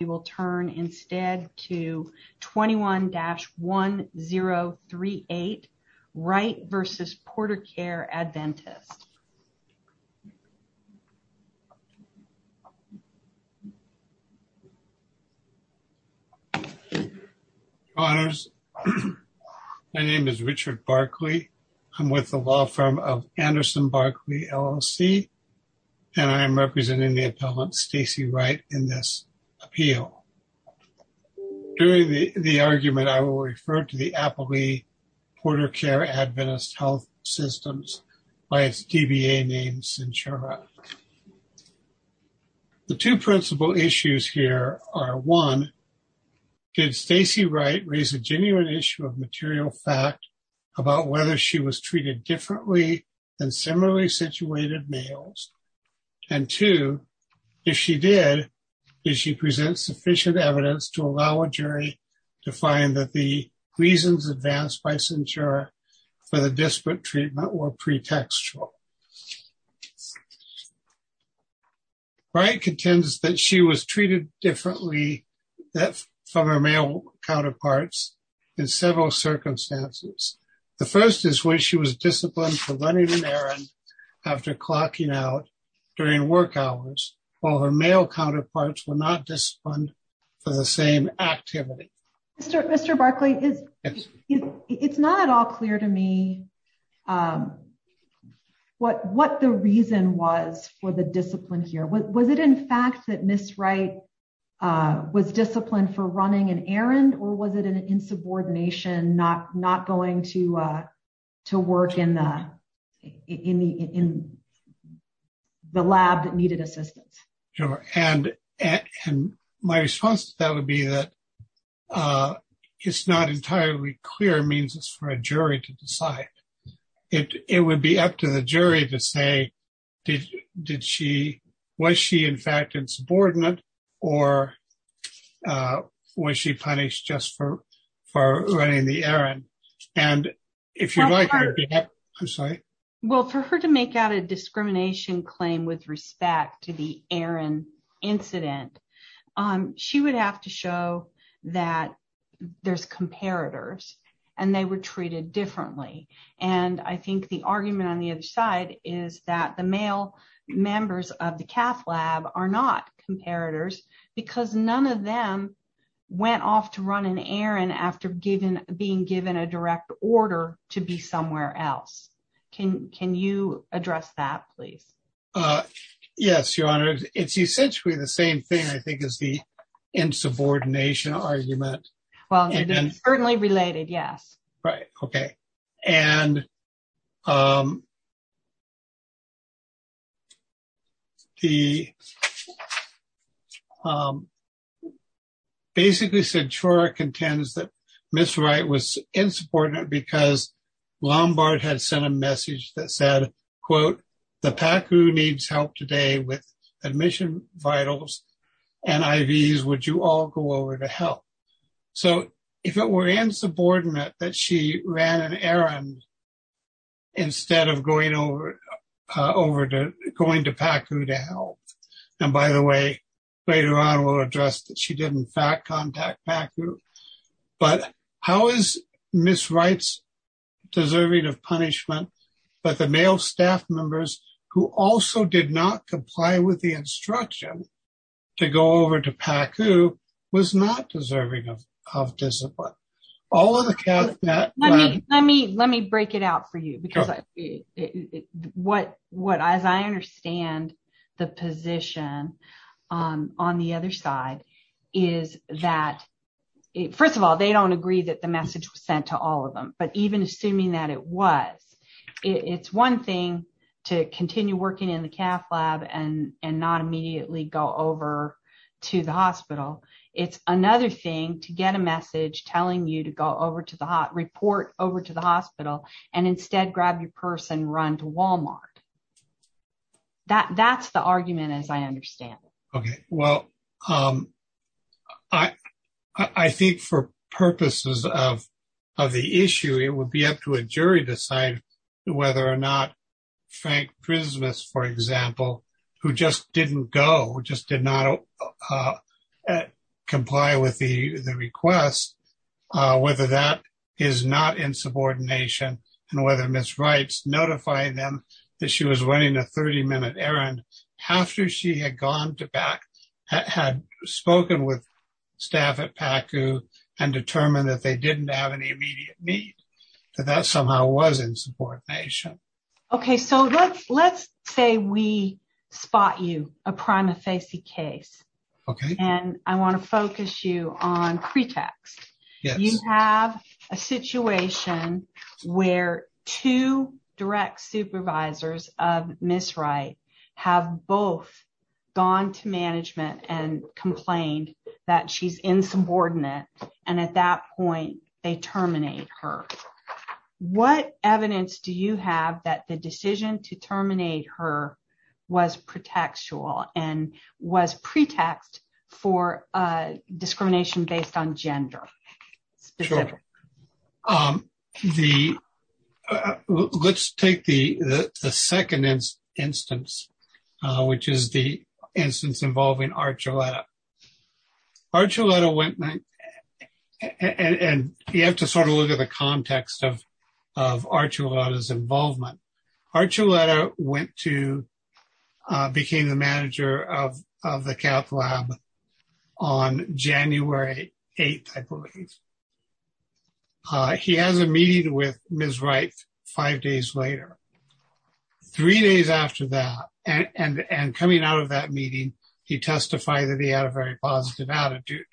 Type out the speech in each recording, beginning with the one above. We will turn instead to 21-1038 Wright v. Portercare Adventist. Honors. My name is Richard Barkley. I'm with the law firm of Anderson Barkley LLC. And I'm representing the appellant Stacey Wright in this appeal. During the argument, I will refer to the appellee Portercare Adventist Health Systems by its DBA name, Cinchara. The two principal issues here are one, did Stacey Wright raise a genuine issue of material fact about whether she was treated differently than similarly situated males? And two, if she did, did she present sufficient evidence to allow a jury to find that the reasons advanced by Cinchara for the disparate treatment were pretextual? Wright contends that she was treated differently from her male counterparts in several circumstances. The first is when she was disciplined for running an errand after clocking out during work hours, while her male counterparts were not disciplined for the same activity. Mr. Barkley, it's not at all clear to me what the reason was for the discipline here. Was it in fact that Ms. Wright was disciplined for running an errand or was it an insubordination, not going to work in the lab that needed assistance? Sure. And my response to that would be that it's not entirely clear means for a jury to decide. It would be up to the jury to say, did she, was she in fact insubordinate or was she punished just for running the errand? And if you like, I'm sorry. Well, for her to make out a discrimination claim with respect to the errand incident, she would have to show that there's comparators and they were treated differently. And I think the argument on the other side is that the male members of the cath lab are not comparators because none of them went off to run an errand after being given a direct order to be somewhere else. Can you address that, please? Yes, Your Honor. It's essentially the same thing, I think, as the insubordination argument. Well, they're certainly related. Yes. Right. Okay. And the basically said, sure, contends that Ms. Wright was insubordinate because Lombard had sent a message that said, quote, the PACU needs help today with admission vitals and IVs. Would you all go over to help? So if it were insubordinate that she ran an errand instead of going to PACU to help. And by the way, later on we'll address that she did in fact contact PACU. But how is Ms. Wright's deserving of punishment but the male staff members who also did not comply with the instruction to go over to PACU was not deserving of discipline? All of the cath lab. Let me break it out for you because what as I understand the position on the other side is that first of all, they don't agree that the message was sent to all of them. But even assuming that it was, it's one thing to continue working in the cath lab and not immediately go over to the hospital. It's another thing to get a message telling you to go over to the hot report over to the hospital and instead grab your purse and run to Walmart. That that's the argument as I understand it. Okay. Well, I think for purposes of the issue, it would be up to a jury to decide whether or not Frank Prismis, for example, who just didn't go, just did not comply with the request, whether that is not insubordination and whether Ms. Wright's notifying them that she was running a 30-minute errand after she had gone to back, had spoken with staff at PACU and determined that they didn't have any immediate need. That somehow was insubordination. Okay. So let's let's say we spot you a prima facie case. Okay, and I want to focus you on pretext. You have a situation where two direct supervisors of Ms. Wright have both gone to management and complained that she's insubordinate and at that point they terminate her. What evidence do you have that the decision to terminate her was pretextual and was pretext for discrimination based on gender? Let's take the second instance, which is the instance involving Archuleta. Archuleta went and you have to sort of look at the context of Archuleta's involvement. Archuleta went to, became the manager of the Calc Lab on January 8th, I believe. He has a meeting with Ms. Wright five days later. Three days after that and coming out of that meeting, he testified that he had a very positive attitude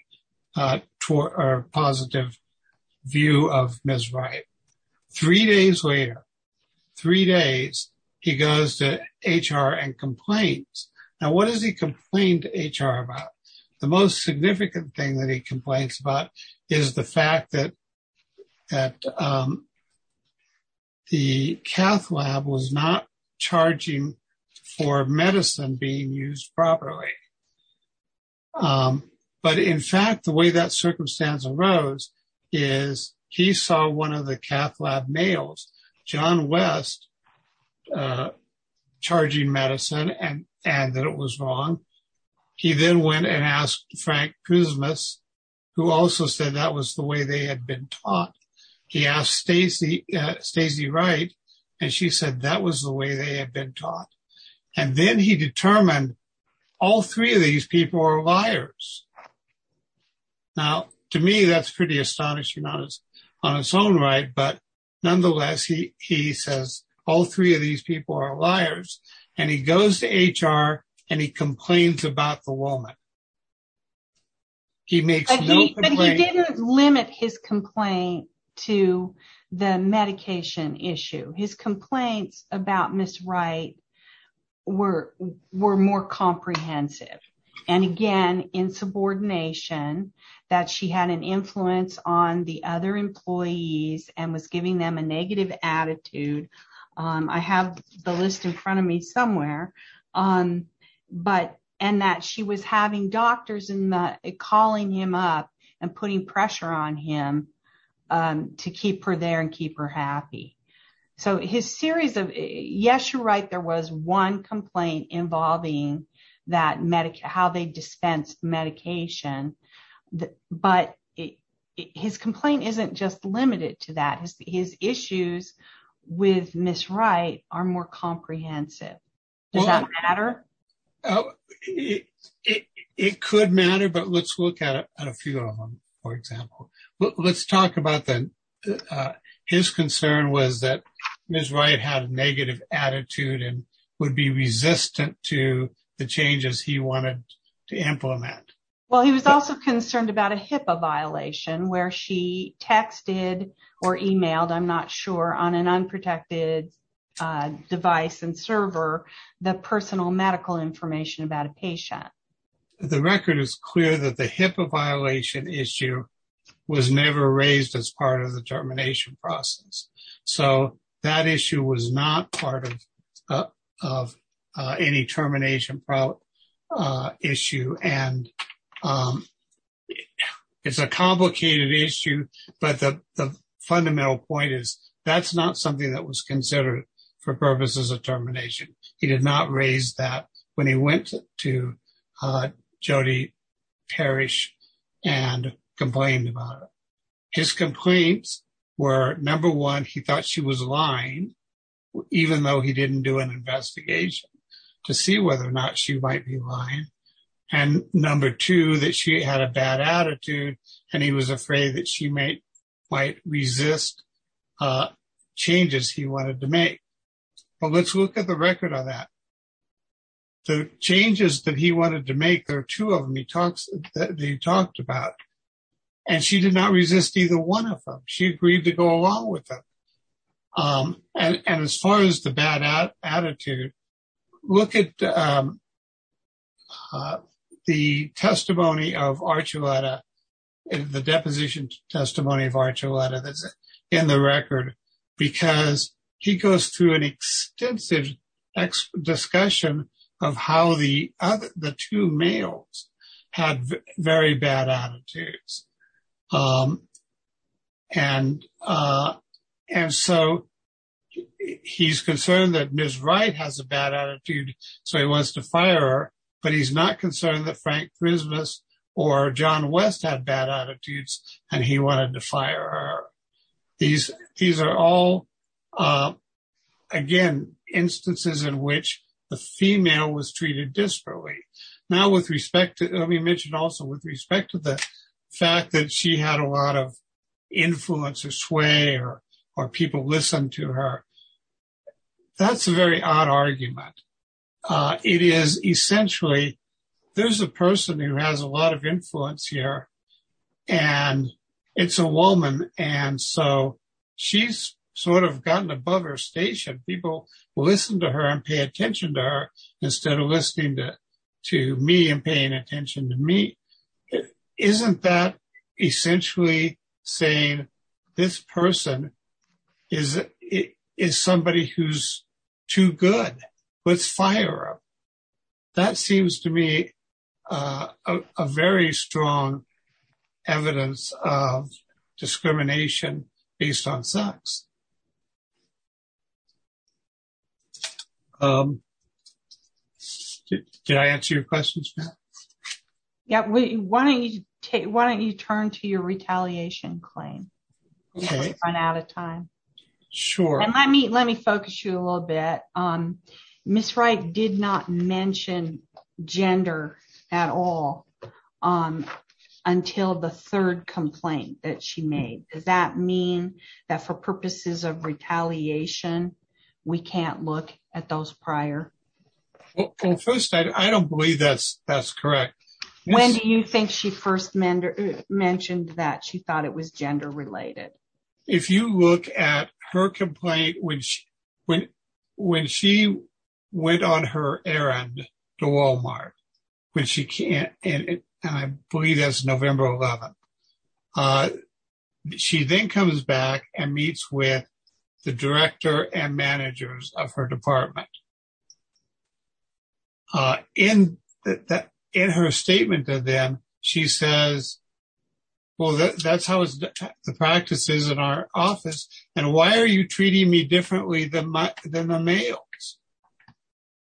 or positive view of Ms. Wright. Three days later, three days, he goes to HR and complains. Now, what does he complain to HR about? The most significant thing that he complains about is the fact that the medicine being used properly. But in fact, the way that circumstance arose is he saw one of the Calc Lab males, John West, charging medicine and that it was wrong. He then went and asked Frank Cousmas, who also said that was the way they had been taught. He asked Stacey Wright and she said that was the way they had been taught. And then he determined all three of these people are liars. Now, to me, that's pretty astonishing on its own right. But nonetheless, he says all three of these people are liars and he goes to HR and he complains about the woman. He makes no complaint. But he didn't limit his complaint to the medication issue. His complaints about Ms. Wright were more comprehensive. And again, in subordination that she had an influence on the other employees and was giving them a negative attitude. I have the list in front of me somewhere. But and that she was having doctors and calling him up and putting pressure on him to keep her there and keep her happy. So his series of yes, you're right. There was one complaint involving that medic how they dispense medication, but it his complaint isn't just limited to that his issues with Miss Wright are more comprehensive. Does that matter? It could matter but let's look at a few of them. For example, let's talk about that. His concern was that Miss Wright had a negative attitude and would be resistant to the changes. He wanted to implement. Well, he was also concerned about a HIPAA violation where she texted or emailed. I'm not sure on an unprotected device and server the personal medical information about a patient. The record is clear that the HIPAA violation issue was never raised as part of the termination process. So that issue was not part of any termination issue and it's a complicated issue. But the fundamental point is that's not something that was considered for purposes of termination. He did not raise that when he went to Jodi Parish and complained about his complaints were number one. He thought she was lying even though he didn't do an investigation to see whether or not she might be lying and number two that she had a bad attitude and he was afraid that she may quite resist changes. He wanted to make but let's look at the record on that. The changes that he wanted to make there are two of them. They talked about and she did not resist either one of them. She agreed to go along with them. And as far as the bad attitude, look at the deposition testimony of Archuleta that's in the record because he goes through an extensive discussion of how the two males had very bad attitudes and so he's concerned that Ms. Wright has a bad attitude so he wants to fire her but he's not concerned that Frank Christmas or John West had bad attitudes and he wanted to fire her. These are all again instances in which the female was treated disparately. Now with respect to the fact that she had a lot of influence or sway or people listen to her. That's a very odd argument. It is essentially there's a person who has a lot of influence here and it's a woman and so she's sort of gotten above her station people listen to her and pay attention to her instead of listening to me and paying attention to me. Isn't that essentially saying this person is it is somebody who's too discrimination based on sex. Did I answer your questions yet? Why don't you take why don't you turn to your retaliation claim? I'm out of time. Sure. I mean, let me focus you a little bit on Ms. at all until the third complaint that she made. Does that mean that for purposes of retaliation? We can't look at those prior. I don't believe that's that's correct. When do you think she first mentioned that she thought it was gender-related if you look at her complaint when she when she went on her errand to But she can't and I believe that's November 11. She then comes back and meets with the director and managers of her department. In her statement to them, she says. Well, that's how it's the practices in our office. And why are you treating me differently than my than the males?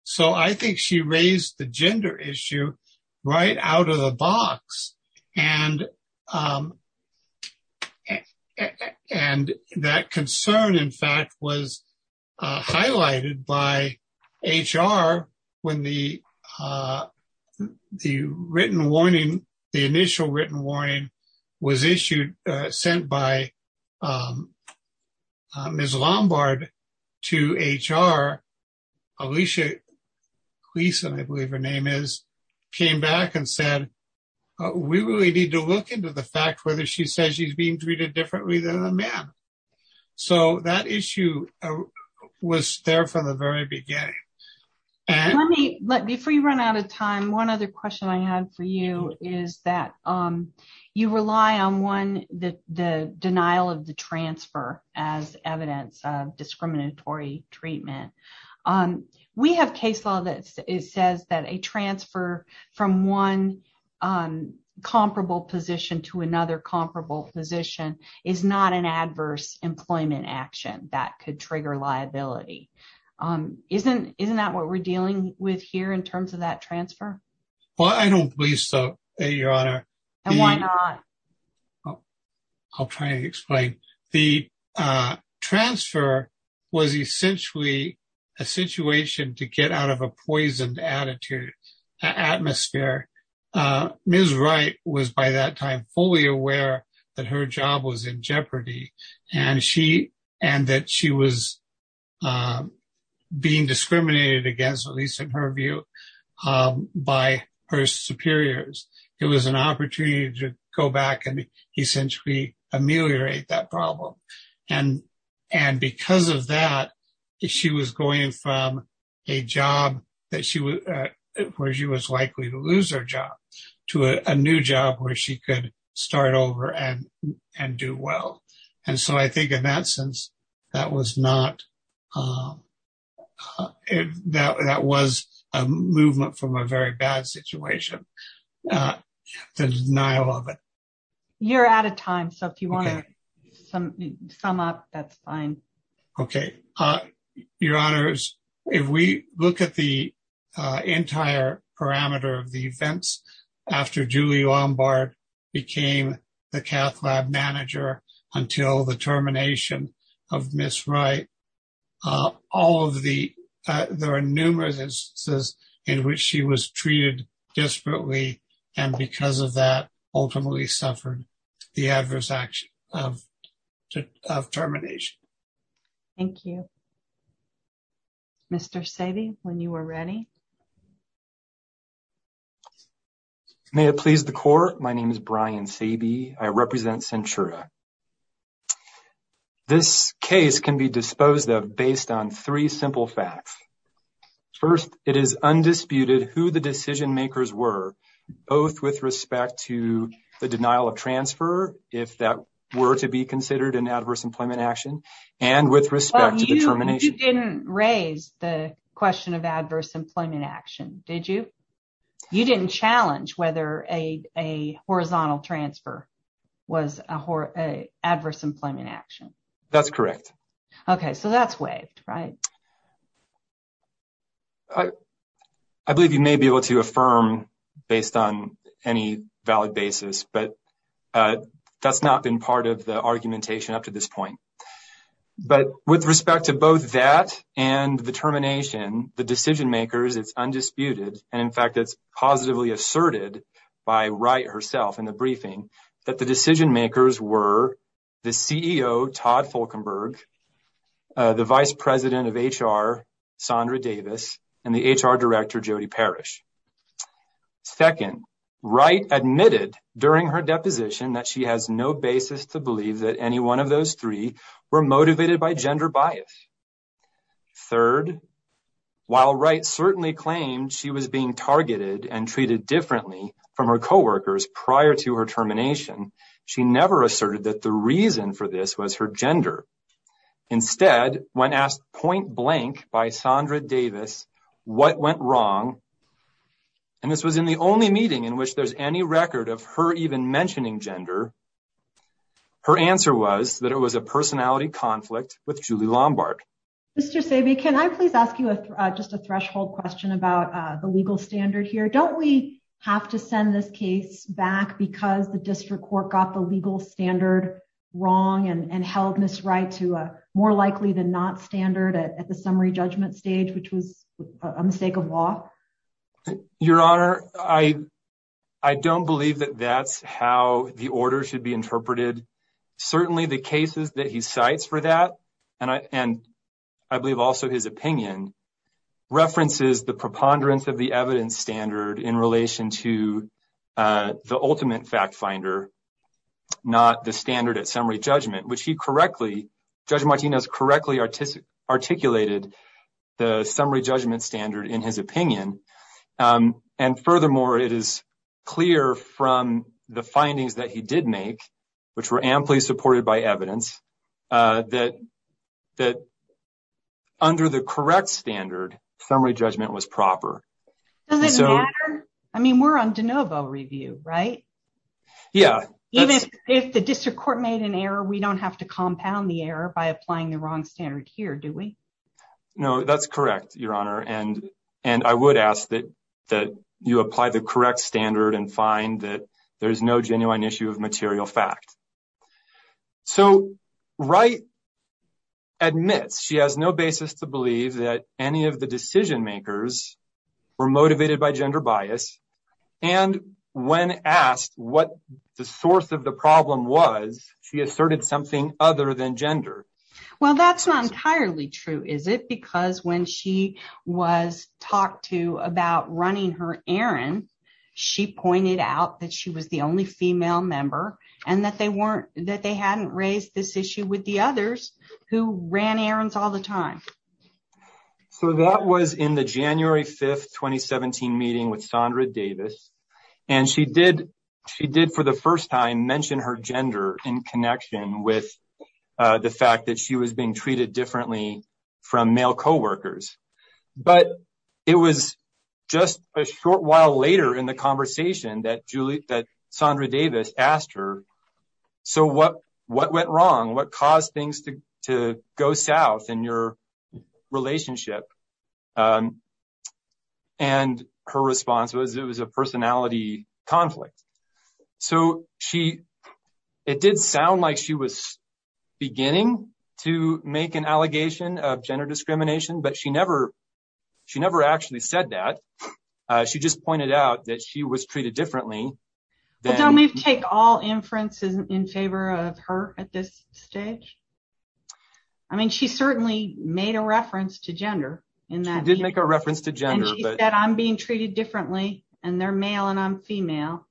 So, I think she raised the gender issue right out of the box. And and that concern in fact was highlighted by HR when the the written warning the initial written warning was issued sent by Ms. Lombard to HR Alicia. Lisa, I believe her name is came back and said we really need to look into the fact whether she says she's being treated differently than a man. So that issue was there from the very beginning. Let me let me free run out of time. One other question I had for you is that you rely on one that the denial of the transfer as evidence of discriminatory treatment. We have case law that it says that a transfer from one comparable position to another comparable position is not an adverse employment action that could trigger liability. Isn't isn't that what we're dealing with here in terms of that transfer? Well, I don't believe so, your honor. And why not? I'll try to explain the transfer was essentially a situation to get out of a poisoned attitude atmosphere. Ms. Wright was by that time fully aware that her job was in jeopardy and she and that she was being discriminated against at least in her view. By her superiors, it was an opportunity to go back and essentially ameliorate that problem. And and because of that, she was going from a job that she was where she was likely to lose her job to a new job where she could start over and and do well. And so I think in that sense, that was not that that was a movement from a very bad situation. The denial of it. You're out of time. So if you want to sum up, that's fine. Okay, your honors. If we look at the entire parameter of the events after Julie Lombard became the cath lab manager until the termination of Ms. Wright, all of the there are numerous instances in which she was treated desperately and because of that, ultimately suffered the adverse action of termination. Mr. Sadie, when you were ready. May it please the court. My name is Brian Sabie. I represent Centura. This case can be disposed of based on three simple facts. First, it is undisputed who the decision-makers were both with respect to the denial of transfer. If that were to be considered an adverse employment action and with respect to the termination, you didn't raise the question of adverse employment action. Did you? You didn't challenge whether a horizontal transfer was a adverse employment action. That's correct. Okay, so that's waived, right? I believe you may be able to affirm based on any valid basis, but that's not been part of the argumentation up to this point. But with respect to both that and the termination, the decision-makers, it's undisputed. And in fact, it's positively asserted by Wright herself in the briefing that the decision-makers were the CEO, Todd Fulkenberg, the vice president of HR, Sondra Davis, and the HR director, Jody Parrish. Second, Wright admitted during her deposition that she has no basis to believe that any one of those three were motivated by gender bias. Third, while Wright certainly claimed she was being targeted and treated differently from her co-workers prior to her termination, she never asserted that the reason for this was her gender. Instead, when asked point-blank by Sondra Davis what went wrong, and this was in the only meeting in which there's any record of her even mentioning gender, her answer was that it was a personality conflict with Julie Lombard. Mr. Sabe, can I please ask you just a threshold question about the legal standard here? Don't we have to send this case back because the district court got the legal standard wrong and held Ms. Wright to a more likely-than-not standard at the summary judgment stage, which was a mistake of law? Your Honor, I don't believe that that's how the order should be interpreted. Certainly, the cases that he cites for that, and I believe also his opinion, references the preponderance of the evidence standard in relation to the ultimate fact-finder, not the standard at summary judgment, which Judge Martinez correctly articulated the summary judgment standard in his opinion. Furthermore, it is clear from the findings that he did make, which were amply supported by evidence, that under the correct standard, summary judgment was proper. I mean, we're on de novo review, right? Yeah. Even if the district court made an error, we don't have to compound the error by applying the wrong standard here, do we? No, that's correct, Your Honor, and I would ask that you apply the correct standard and find that there's no genuine issue of material fact. So Wright admits she has no basis to believe that any of the decision-makers were motivated by gender bias, and when asked what the source of the problem was, she asserted something other than gender. Well, that's not entirely true, is it? Because when she was talked to about running her errand, she pointed out that she was the only female member and that they weren't, that they hadn't raised this issue with the others who ran errands all the time. So that was in the January 5th, 2017 meeting with Sondra Davis, and she did, she did for the first time mention her gender in connection with the fact that she was being treated differently from male co-workers, but it was just a short while later in the conversation that Julie, that Sondra Davis asked her, so what, what went wrong? What caused things to go south in your relationship? And her response was it was a personality conflict. So she, it did sound like she was beginning to make an allegation of gender discrimination, but she never, she never actually said that. She just pointed out that she was being treated differently. But don't we take all inferences in favor of her at this stage? I mean, she certainly made a reference to gender. She did make a reference to gender. And she said, I'm being treated differently, and they're male and I'm female.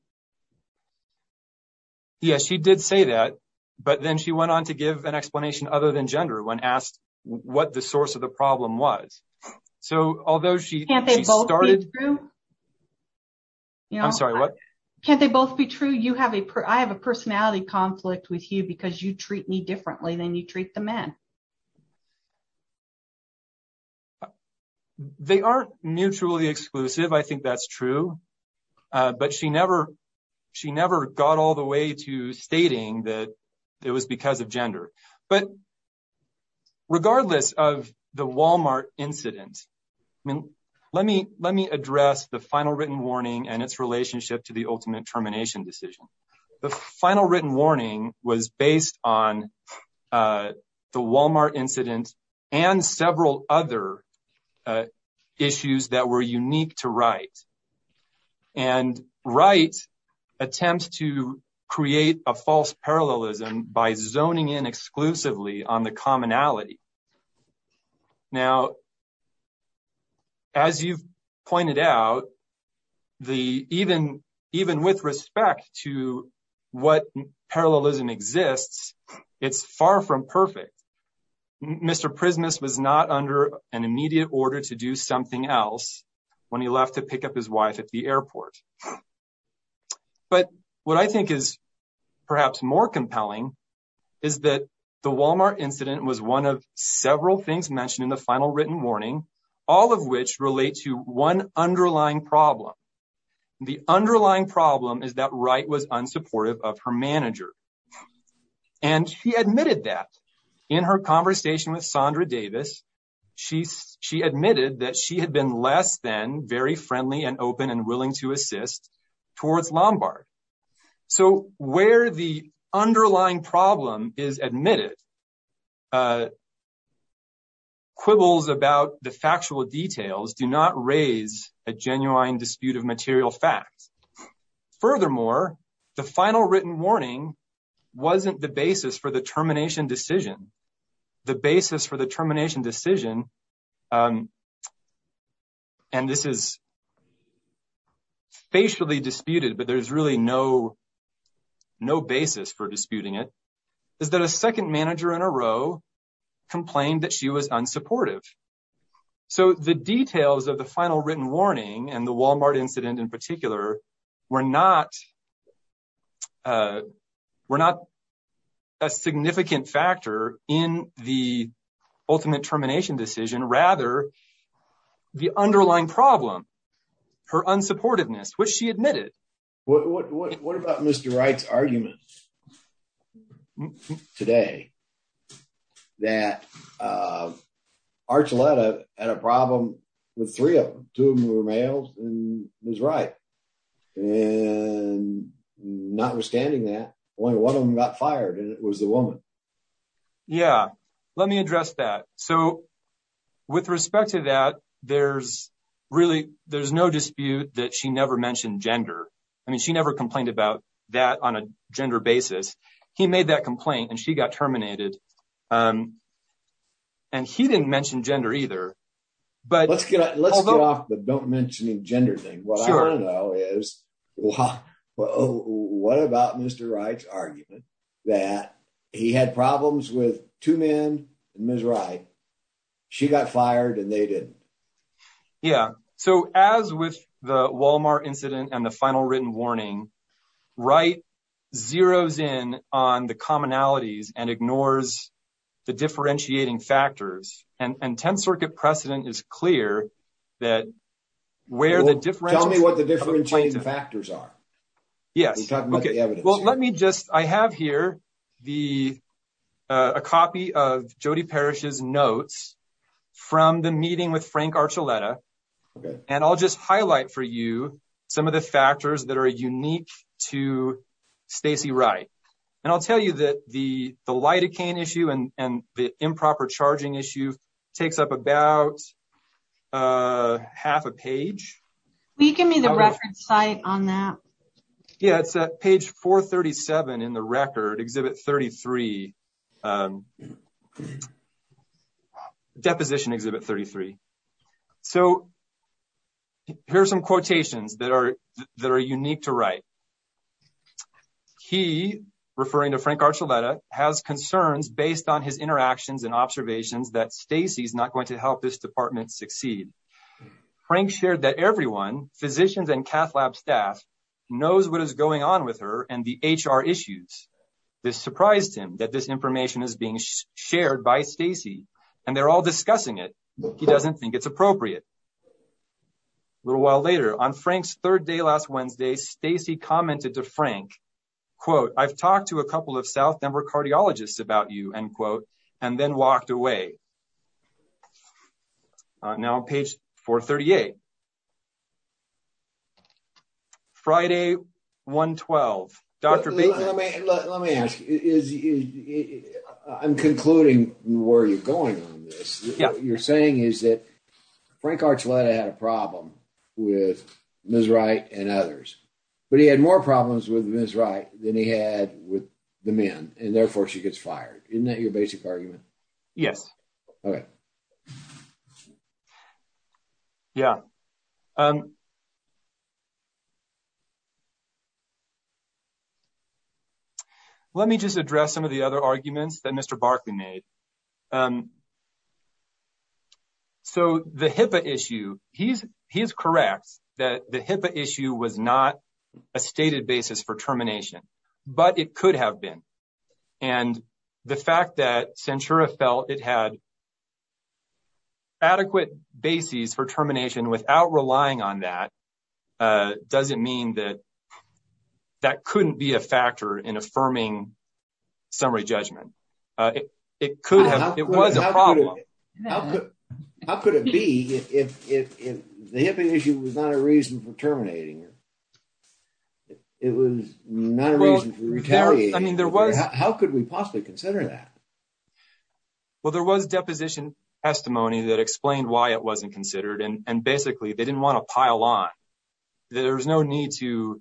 Yes, she did say that, but then she went on to give an explanation other than gender when asked what the source of the problem was. So, although she started, I'm sorry, what? Can't they both be true? You have a, I have a personality conflict with you because you treat me differently than you treat the men. They aren't mutually exclusive. I think that's true, but she never, she never got all the way to stating that it was because of gender. But regardless of the Walmart incident, let me, let me address the final written warning and its relationship to the ultimate termination decision. The final written warning was based on the Walmart incident and several other issues that were unique to Wright. And Wright attempts to create a false parallelism by zoning in exclusively on the commonality. Now, as you pointed out, the even, even with respect to what parallelism exists, it's far from perfect. Mr. Prismus was not under an immediate order to do something else when he left to pick up his wife at the airport. But what I think is perhaps more compelling is that the Walmart incident was one of several things mentioned in the final written warning, all of which relate to one underlying problem. The underlying problem is that Wright was unsupportive of her manager. And she admitted that in her conversation with Sondra Davis, she admitted that she had been less than very friendly and open and willing to assist towards Lombard. So where the underlying problem is admitted, quibbles about the factual details do not raise a genuine dispute of material fact. Furthermore, the final written warning wasn't the basis for the termination decision. The basis for the termination decision, and this is facially disputed, but there's really no basis for disputing it, is that a second manager in a row complained that she was unsupportive. So the details of the final written warning and the Walmart incident in particular were not a significant factor in the ultimate termination decision, rather the underlying problem, her unsupportiveness, which she admitted. What about Mr. Wright's argument today that Archuleta had a problem with three of them? Two of them were males and it was Wright. And notwithstanding that, only one of them got fired and it was the woman. Yeah, let me address that. So with respect to that, there's really, there's no dispute that she never mentioned gender. I mean, she never complained about that on a gender basis. He made that complaint and she got terminated. And he didn't mention gender either. Let's get off the don't mention gender thing. What I want to know is, what about Mr. Wright's argument that he had problems with two men and Ms. Wright. She got fired and they didn't. Yeah. So as with the Walmart incident and the final written warning, Wright zeros in on the commonalities and ignores the differentiating factors. And 10th Circuit precedent is clear that where the difference. Tell me what the differentiating factors are. Yes. Well, let me just, I have here a copy of Jodi Parish's notes from the meeting with Frank Archuleta and I'll just highlight for you some of the factors that are unique to Stacey Wright. And I'll tell you that the lidocaine issue and the improper charging issue takes up about half a page. Will you give me the reference site on that? Yeah, it's at page 437 in the record, Exhibit 33, Deposition Exhibit 33. So here's some quotations that are that are unique to Wright. He, referring to Frank Archuleta, has concerns based on his interactions and observations that Stacey's not going to help this department succeed. Frank shared that everyone, physicians and cath lab staff knows what is going on with her and the HR issues. This surprised him that this information is being shared by Stacey and they're all discussing it. He doesn't think it's appropriate. A little while later on Frank's third day last Wednesday, Stacey commented to Frank, quote, I've talked to a couple of South Denver cardiologists about you, end quote, and then walked away. Now, page 438. Friday, 1-12, Dr. Let me ask, I'm concluding where you're going on this. What you're saying is that Frank Archuleta had a problem with Ms. Wright and others, but he had more problems with Ms. Wright than he had with the men. And therefore she gets fired. Isn't that your basic argument? Yes. Okay. Yeah. Let me just address some of the other arguments that Mr. Barkley made. So the HIPAA issue, he is correct that the HIPAA issue was not a stated basis for termination, but it could have been. And the fact that Censura felt it had adequate basis for termination without relying on that doesn't mean that that couldn't be a factor in affirming summary judgment. It could have, it was a problem. How could it be if the HIPAA issue was not a reason for terminating her? It was not a reason for retaliation. How could we possibly consider that? Well, there was deposition testimony that explained why it wasn't considered and basically they didn't want to pile on. There was no need to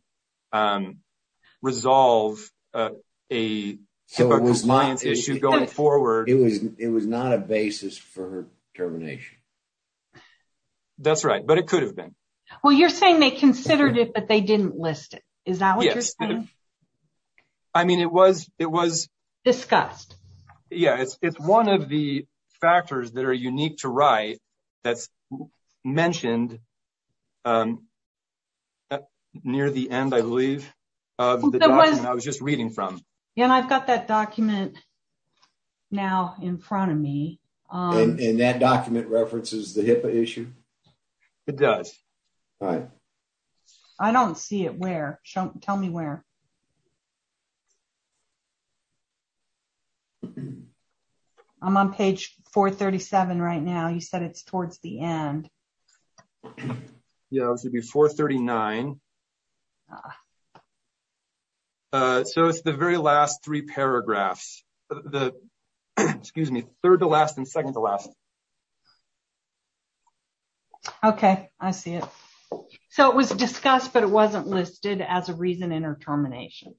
resolve a HIPAA compliance issue going forward. It was not a basis for termination. That's right, but it could have been. Well, you're saying they considered it, but they didn't list it. Is that what you're saying? I mean, it was discussed. Yeah, it's one of the factors that are unique to write that's mentioned near the end, I believe, of the document I was just reading from. Yeah, and I've got that document now in front of me. And that document references the HIPAA issue? It does. All right. I don't see it. Where? Tell me where. I'm on page 437 right now. You said it's towards the end. Yeah, it should be 439. So it's the very last three paragraphs. The, excuse me, third to last and second to last. Okay, I see it. So it was discussed, but it wasn't listed as a reason in her termination.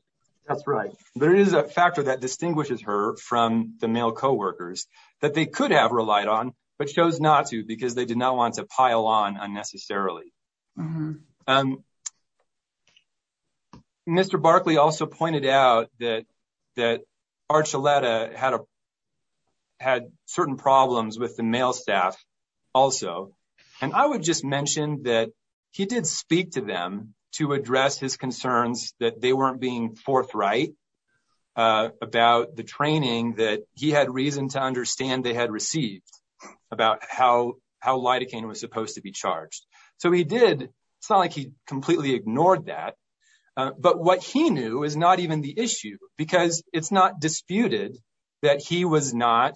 That's right. There is a factor that distinguishes her from the male co-workers that they could have relied on, but chose not to because they did not want to pile on unnecessarily. Mr. Barkley also pointed out that Archuleta had certain problems with her and with the male staff also. And I would just mention that he did speak to them to address his concerns that they weren't being forthright about the training that he had reason to understand they had received about how lidocaine was supposed to be charged. So he did. It's not like he completely ignored that. But what he knew is not even the issue because it's not disputed that he was not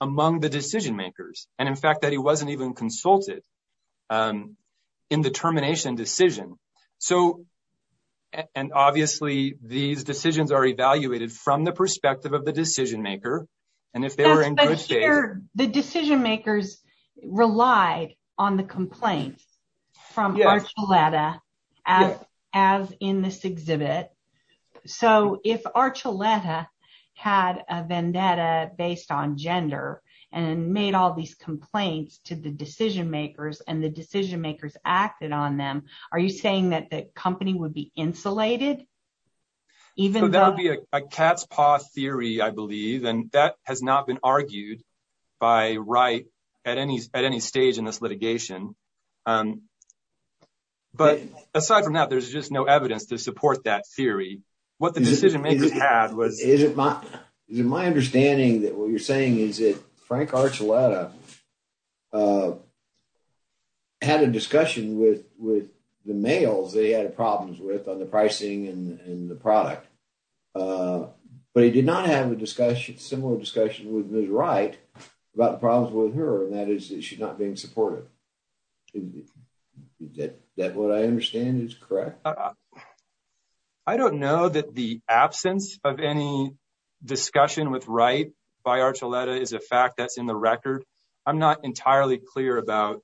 among the decision-makers. And in fact, that he wasn't even consulted in the termination decision. So, and obviously these decisions are evaluated from the perspective of the decision-maker. And if they were in good faith. The decision-makers relied on the complaints from Archuleta as in this exhibit. So if Archuleta had a vendetta based on gender and made all these complaints to the decision-makers and the decision-makers acted on them. Are you saying that the company would be insulated? Even though that would be a cat's paw theory. I believe and that has not been argued by right at any at any stage in this litigation. But aside from that, there's just no evidence to support that theory what the decision-makers had was is it my is it my understanding that what you're saying is it Frank Archuleta had a discussion with with the males. They had problems with on the pricing and the product, but he did not have a discussion similar discussion with his right about the problems with her and that is that she's not being supportive. Is that what I understand is correct. I don't know that the absence of any discussion with right by Archuleta is a fact that's in the record. I'm not entirely clear about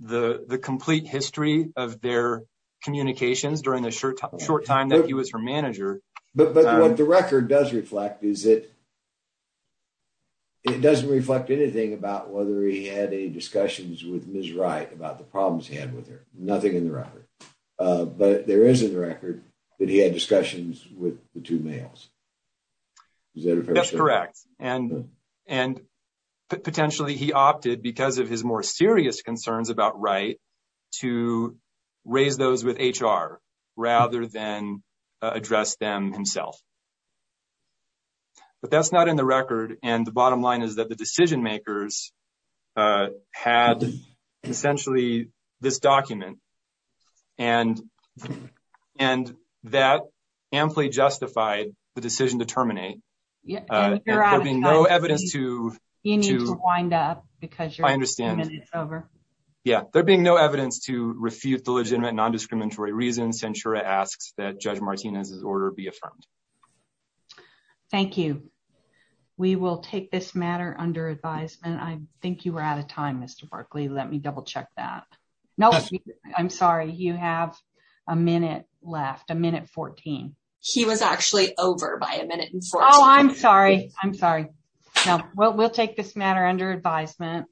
the the complete history of their communications during the short time short time that he was her manager. But what the record does reflect is it? It doesn't reflect anything about whether he had a discussions with Miss right about the problems he had with her nothing in the record, but there is in the record that he had discussions with the two males. Is that if that's correct and and potentially he opted because of his more serious concerns about right to raise those with HR rather than address them himself, but that's not in the record. And the bottom line is that the decision-makers had essentially this document and and that amply justified the decision to terminate. Yeah, you're out of being no evidence to you need to wind up because you're I understand it's over. Yeah, they're being no evidence to refute the legitimate non-discriminatory reasons. Centra asks that judge Martinez's order be affirmed. Thank you. We will take this matter under advisement. I think you were out of time. Mr. Berkeley. Let me double-check that. No, I'm sorry. You have a minute left a minute 14. He was actually over by a minute and four. Oh, I'm sorry. I'm sorry. No, we'll take this matter under advisement.